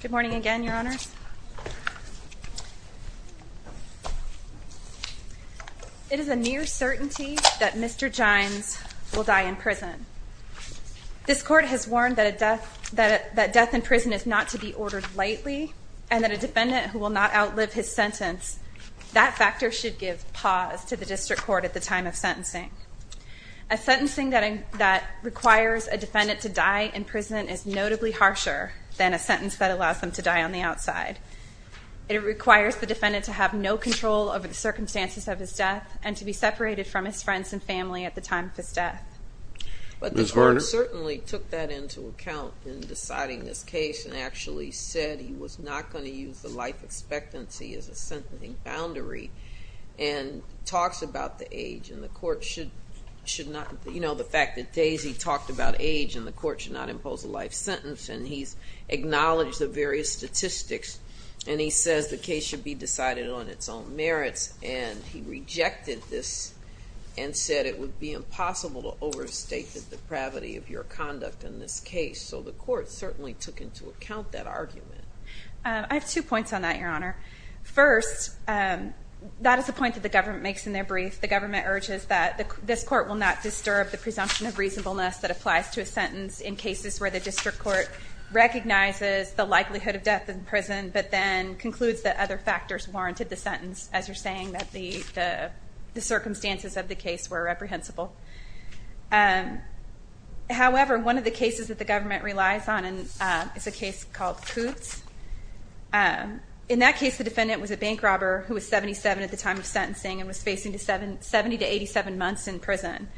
Good morning again, Your Honors. It is a near certainty that Mr. Jines will die in prison. This court has warned that death in prison is not to be ordered lightly and that a defendant who will not outlive his sentence, that factor should give pause to the district court at the time of sentencing. A sentencing that requires a defendant to die in prison is notably harsher than a sentence that allows them to die on the outside. It requires the defendant to have no control over the circumstances of his death and to be separated from his friends and family at the time of his death. But the court certainly took that into account in deciding this case and actually said he was not going to use the life expectancy as a sentencing boundary and talks about the age and the court should not, you know, the fact that Daisy talked about age and the court should not impose a life sentence and he's acknowledged the various statistics and he says the case should be decided on its own merits and he rejected this and said it would be impossible to overstate the depravity of your conduct in this case. So the court certainly took into account that argument. I have two points on that, Your Honor. First, that is a point that the government makes in their brief. The government urges that this court will not disturb the presumption of reasonableness that applies to a sentence in cases where the district court recognizes the likelihood of death in prison but then concludes that other factors warranted the sentence as you're saying that the circumstances of the case were reprehensible. However, one of the cases that the government relies on is a case called Kutz. In that case, the defendant was a bank robber who was 77 at the time of sentencing and was facing 70 to 87 months in prison.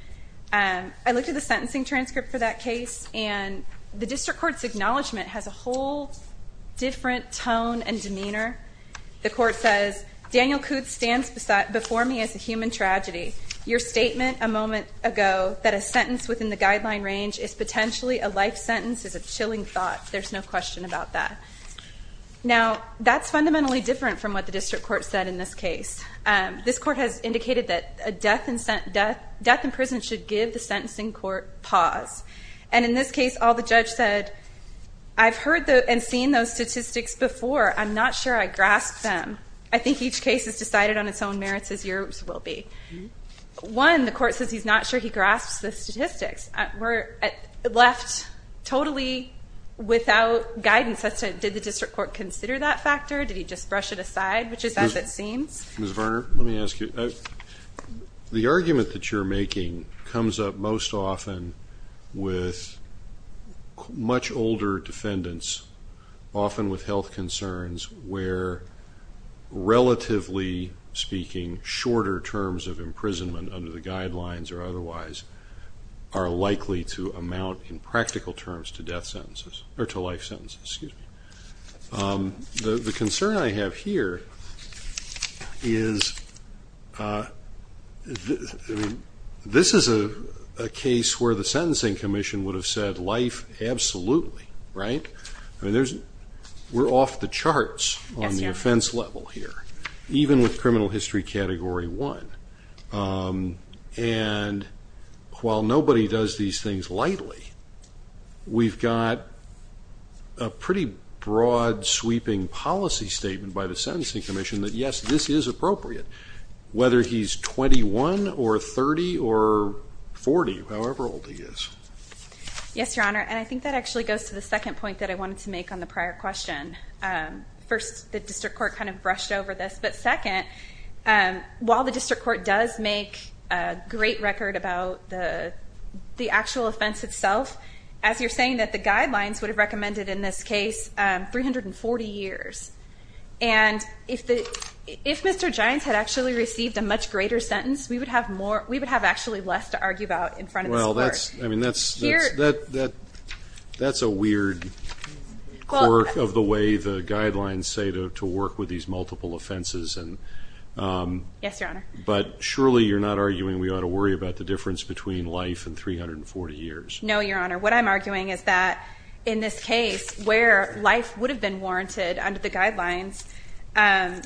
I looked at the sentencing transcript for that case and the district court's acknowledgement has a whole different tone and demeanor. The court says, Daniel Kutz stands before me as a human tragedy. Your statement a moment ago that a sentence within the guideline range is potentially a life sentence is a chilling thought. There's no question about that. Now, that's fundamentally different from what the district court said in this case. This court has indicated that a death in prison should give the sentencing court pause. And in this case, all the judge said, I've heard and seen those statistics before. I'm not sure I grasp them. I think each case is decided on its own merits as yours will be. One, the court says he's not sure he grasps the statistics. We're left totally without guidance as to did the district court consider that factor? Did he just brush it aside, which is as it seems? Ms. Varner, let me ask you. The argument that you're making comes up most often with much older defendants, often with relatively speaking shorter terms of imprisonment under the guidelines or otherwise are likely to amount in practical terms to death sentences, or to life sentences. Excuse me. The concern I have here is, this is a case where the sentencing commission would have said life absolutely, right? I mean, we're off the charts on the offense level. Even with criminal history category one. And while nobody does these things lightly, we've got a pretty broad sweeping policy statement by the sentencing commission that, yes, this is appropriate, whether he's 21 or 30 or 40, however old he is. Yes, your honor. And I think that actually goes to the second point that I wanted to make on the prior question. First, the district court kind of brushed over this. But second, while the district court does make a great record about the actual offense itself, as you're saying that the guidelines would have recommended in this case 340 years. And if Mr. Gines had actually received a much greater sentence, we would have actually less to argue about in front of this court. I mean, that's a weird quirk of the way the guidelines say to work with these multiple offenses. Yes, your honor. But surely you're not arguing we ought to worry about the difference between life and 340 years? No, your honor. What I'm arguing is that in this case, where life would have been warranted under the guidelines, and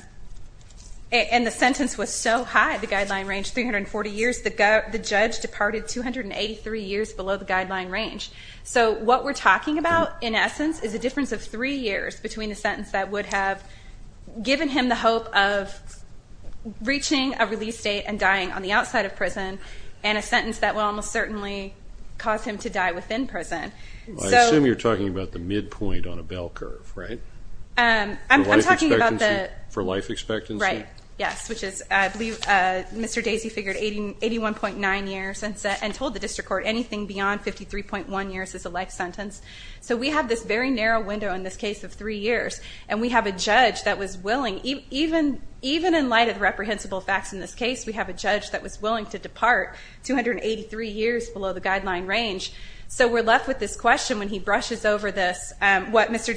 the sentence was so high, the guideline range 340 years, the judge departed 283 years below the guideline range. So what we're talking about, in essence, is a difference of three years between the sentence that would have given him the hope of reaching a release date and dying on the outside of prison, and a sentence that will almost certainly cause him to die within prison. I assume you're talking about the midpoint on a bell curve, right? I'm talking about the- For life expectancy? Right, yes. Which is, I believe Mr. Daisy figured 81.9 years and told the district court anything beyond 53.1 years is a life sentence. So we have this very narrow window in this case of three years. And we have a judge that was willing, even in light of the reprehensible facts in this case, we have a judge that was willing to depart 283 years below the guideline range. So we're left with this question when he brushes over this, what Mr.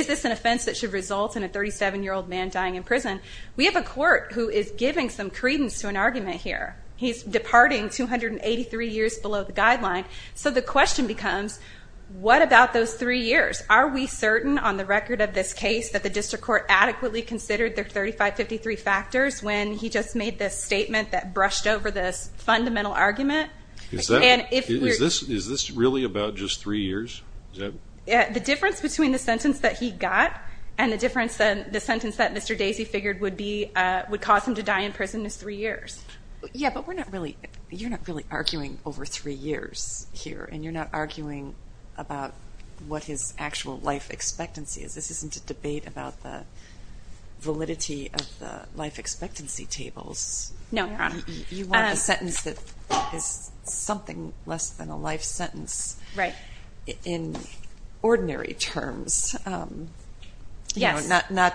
Is this an offense that should result in a 37-year-old man dying in prison? We have a court who is giving some credence to an argument here. He's departing 283 years below the guideline. So the question becomes, what about those three years? Are we certain on the record of this case that the district court adequately considered their 3553 factors when he just made this statement that brushed over this fundamental argument? Is this really about just three years? The difference between the sentence that he got and the sentence that Mr. Daisy figured would cause him to die in prison is three years. Yeah, but you're not really arguing over three years here. And you're not arguing about what his actual life expectancy is. This isn't a debate about the validity of the life expectancy tables. No, Your Honor. You want a sentence that is something less than a life sentence. Right. In ordinary terms, not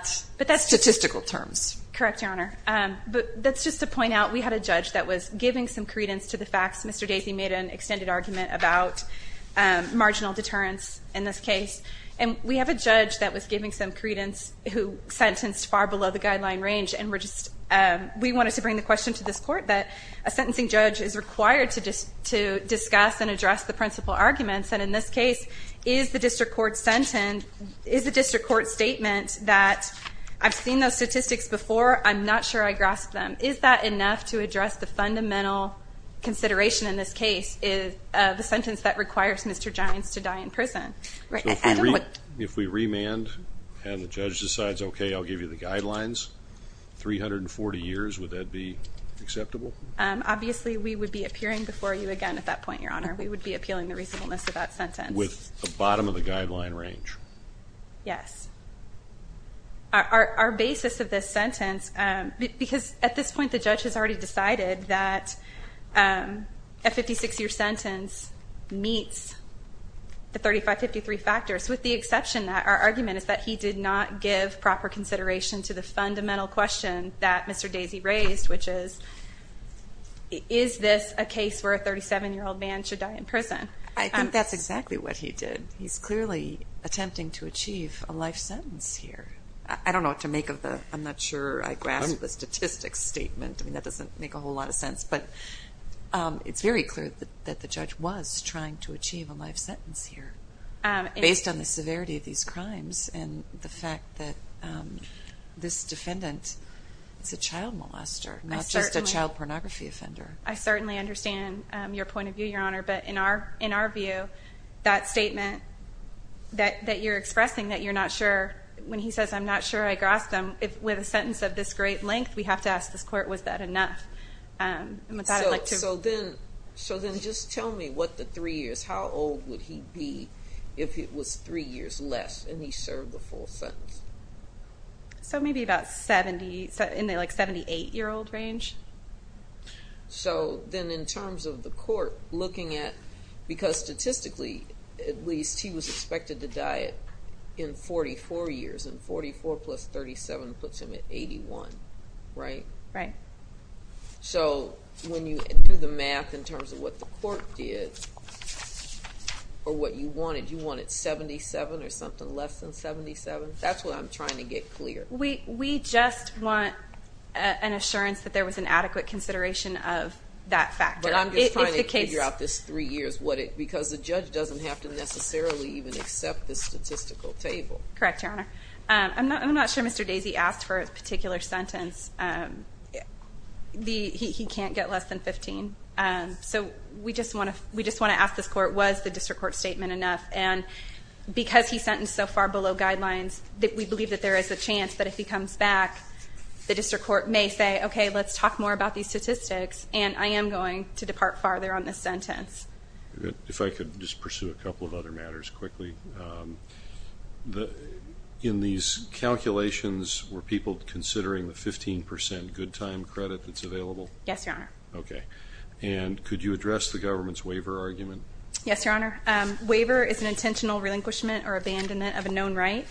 statistical terms. Correct, Your Honor. But that's just to point out we had a judge that was giving some credence to the facts. Mr. Daisy made an extended argument about marginal deterrence in this case. And we have a judge that was giving some credence who sentenced far below the guideline range. And we wanted to bring the question to this court that a sentencing judge is required to discuss and in this case, is the district court statement that I've seen those statistics before. I'm not sure I grasp them. Is that enough to address the fundamental consideration in this case of the sentence that requires Mr. Giants to die in prison? Right. If we remand and the judge decides, okay, I'll give you the guidelines, 340 years, would that be acceptable? Obviously, we would be appearing before you again at that point, Your Honor. We would be appealing the reasonableness of that sentence. With the bottom of the guideline range. Yes. Our basis of this sentence, because at this point, the judge has already decided that a 56-year sentence meets the 3553 factors. With the exception that our argument is that he did not give proper consideration to the fundamental question that Mr. Daisy raised, which is, is this a case where a 37-year-old man should die in prison? I think that's exactly what he did. He's clearly attempting to achieve a life sentence here. I don't know what to make of the, I'm not sure I grasp the statistics statement. I mean, that doesn't make a whole lot of sense. But it's very clear that the judge was trying to achieve a life sentence here. Based on the severity of these crimes and the fact that this defendant is a child molester, not just a child pornography offender. I certainly understand your point of view, Your Honor. But in our view, that statement that you're expressing, that you're not sure, when he says, I'm not sure I grasp them, with a sentence of this great length, we have to ask this court, was that enough? So then, so then just tell me what the three years, how old would he be if it was three years less and he served the full sentence? So maybe about 70, in the like 78-year-old range? So then in terms of the court looking at, because statistically, at least he was expected to die in 44 years, and 44 plus 37 puts him at 81, right? Right. So when you do the math in terms of what the court did, or what you wanted, do you want it 77 or something less than 77? That's what I'm trying to get clear. We just want an assurance that there was an adequate consideration of that factor. But I'm just trying to figure out this three years, because the judge doesn't have to necessarily even accept the statistical table. Correct, Your Honor. I'm not sure Mr. Daisy asked for a particular sentence. He can't get less than 15. So we just want to ask this court, was the district court statement enough? And because he's sentenced so far below guidelines, we believe that there is a chance that if he comes back, the district court may say, okay, let's talk more about these statistics. And I am going to depart farther on this sentence. If I could just pursue a couple of other matters quickly. In these calculations, were people considering the 15% good time credit that's available? Yes, Your Honor. Okay. And could you address the government's waiver argument? Yes, Your Honor. Waiver is an intentional relinquishment or abandonment of a known right.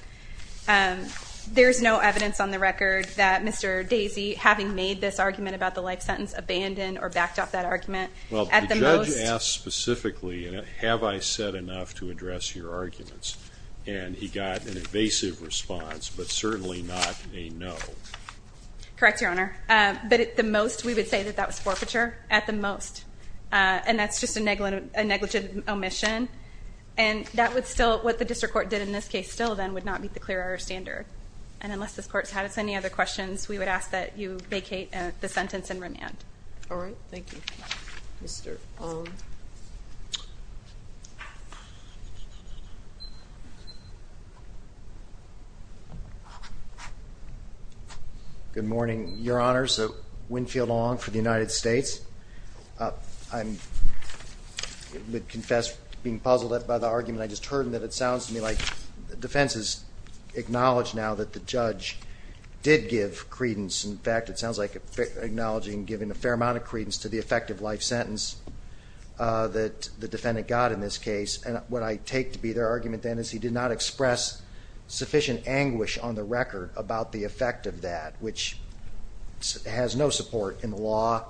There's no evidence on the record that Mr. Daisy, having made this argument about the life sentence, abandoned or backed off that argument. Well, the judge asked specifically, have I said enough to address your arguments? And he got an evasive response, but certainly not a no. Correct, Your Honor. But at the most, we would say that that was forfeiture, at the most. And that's just a negligent omission. And that would still, what the district court did in this case, still then would not meet the clear order standard. And unless this court's had any other questions, we would ask that you vacate the sentence in remand. All right, thank you. Mr. Ong. Good morning, Your Honors. Winfield Ong for the United States. I would confess being puzzled by the argument I just heard, and that it sounds to me like the defense has acknowledged now that the judge did give credence. In fact, it sounds like acknowledging giving a fair amount of credence to the effective life sentence that the defendant got in this case. And what I take to be their argument then is he did not express sufficient anguish on the record about the effect of that, which has no support in the law,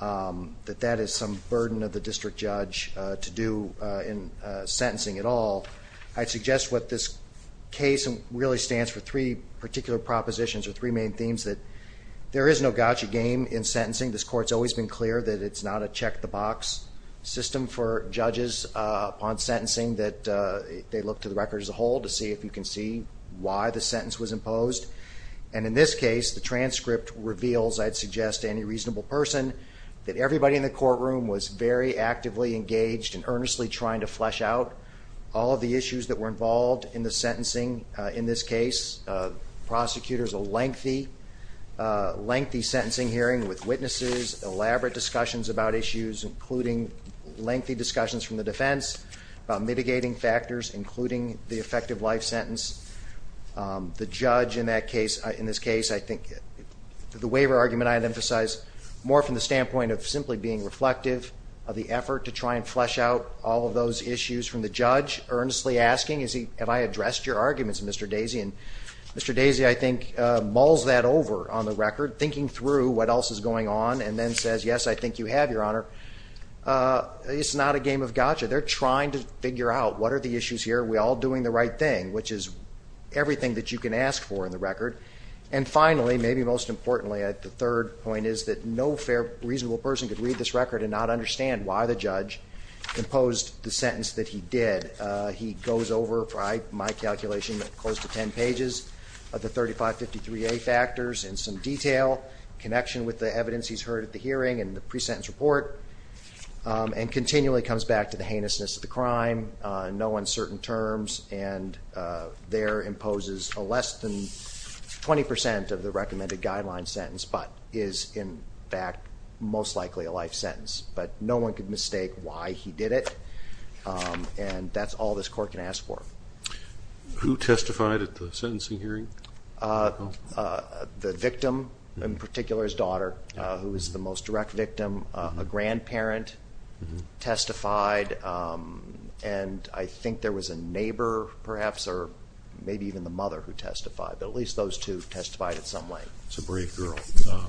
that that is some burden of the district judge to do in sentencing at all. I suggest what this case really stands for, three particular propositions or three main themes that there is no gotcha game in sentencing. This court's always been clear that it's not a check the box system for judges on sentencing that they look to the record as a whole to see if you can see why the sentence was imposed. And in this case, the transcript reveals, I'd suggest to any reasonable person, that everybody in the courtroom was very actively engaged and earnestly trying to flesh out all of the issues that were involved in the sentencing in this case. Prosecutors, a lengthy, lengthy sentencing hearing with witnesses, elaborate discussions about issues including lengthy discussions from the defense, about mitigating factors including the effective life sentence. The judge in this case, I think, the waiver argument I'd emphasize more from the standpoint of simply being reflective of the effort to try and flesh out all of those issues from the judge, earnestly asking, have I addressed your arguments, Mr. Daisy? And Mr. Daisy, I think, mulls that over on the record, thinking through what else is going on, and then says, yes, I think you have, Your Honor. It's not a game of gotcha. They're trying to figure out, what are the issues here? Are we all doing the right thing? Which is everything that you can ask for in the record. And finally, maybe most importantly, the third point is that no fair, reasonable person could read this record and not understand why the judge imposed the sentence that he did. He goes over, by my calculation, close to ten pages of the 3553A factors in some detail, connection with the evidence he's heard at the hearing and the pre-sentence report, and continually comes back to the heinousness of the crime. No uncertain terms, and there imposes a less than 20% of the recommended guideline sentence, but is in fact, most likely a life sentence. But no one could mistake why he did it, and that's all this court can ask for. Who testified at the sentencing hearing? The victim, in particular his daughter, who was the most direct victim. A grandparent testified, and I think there was a neighbor perhaps, or maybe even the mother who testified, but at least those two testified in some way. It's a brave girl.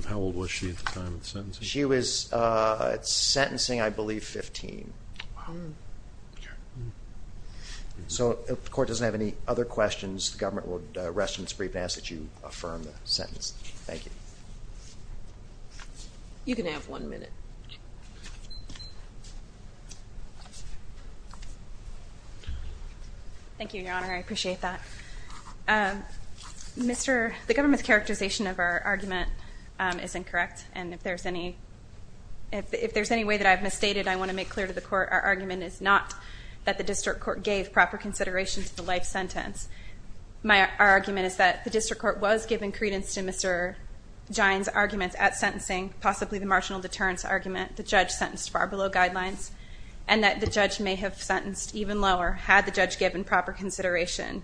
How old was she at the time of the sentencing? She was sentencing, I believe, 15. So if the court doesn't have any other questions, the government will rest in its brief and ask that you affirm the sentence. Thank you. You can have one minute. Thank you, Your Honor. I appreciate that. The government's characterization of our argument is incorrect. And if there's any way that I've misstated, I want to make clear to the court, our argument is not that the district court gave proper consideration to the life sentence. Our argument is that the district court was given credence to Mr. Gine's arguments at sentencing, possibly the marginal deterrence argument. The judge sentenced far below guidelines. And that the judge may have sentenced even lower had the judge given proper consideration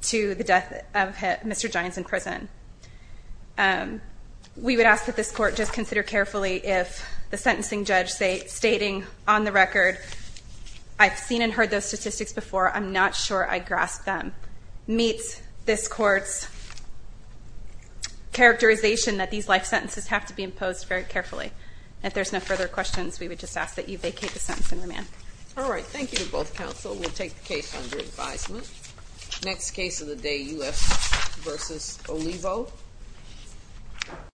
to the death of Mr. Gine's in prison. We would ask that this court just consider carefully if the sentencing judge stating, on the record, I've seen and heard those statistics before, I'm not sure I grasp them, meets this court's characterization that these life sentences have to be imposed very carefully. If there's no further questions, we would just ask that you vacate the sentence in remand. All right, thank you to both counsel. We'll take the case under advisement. Next case of the day, UF versus Olivo.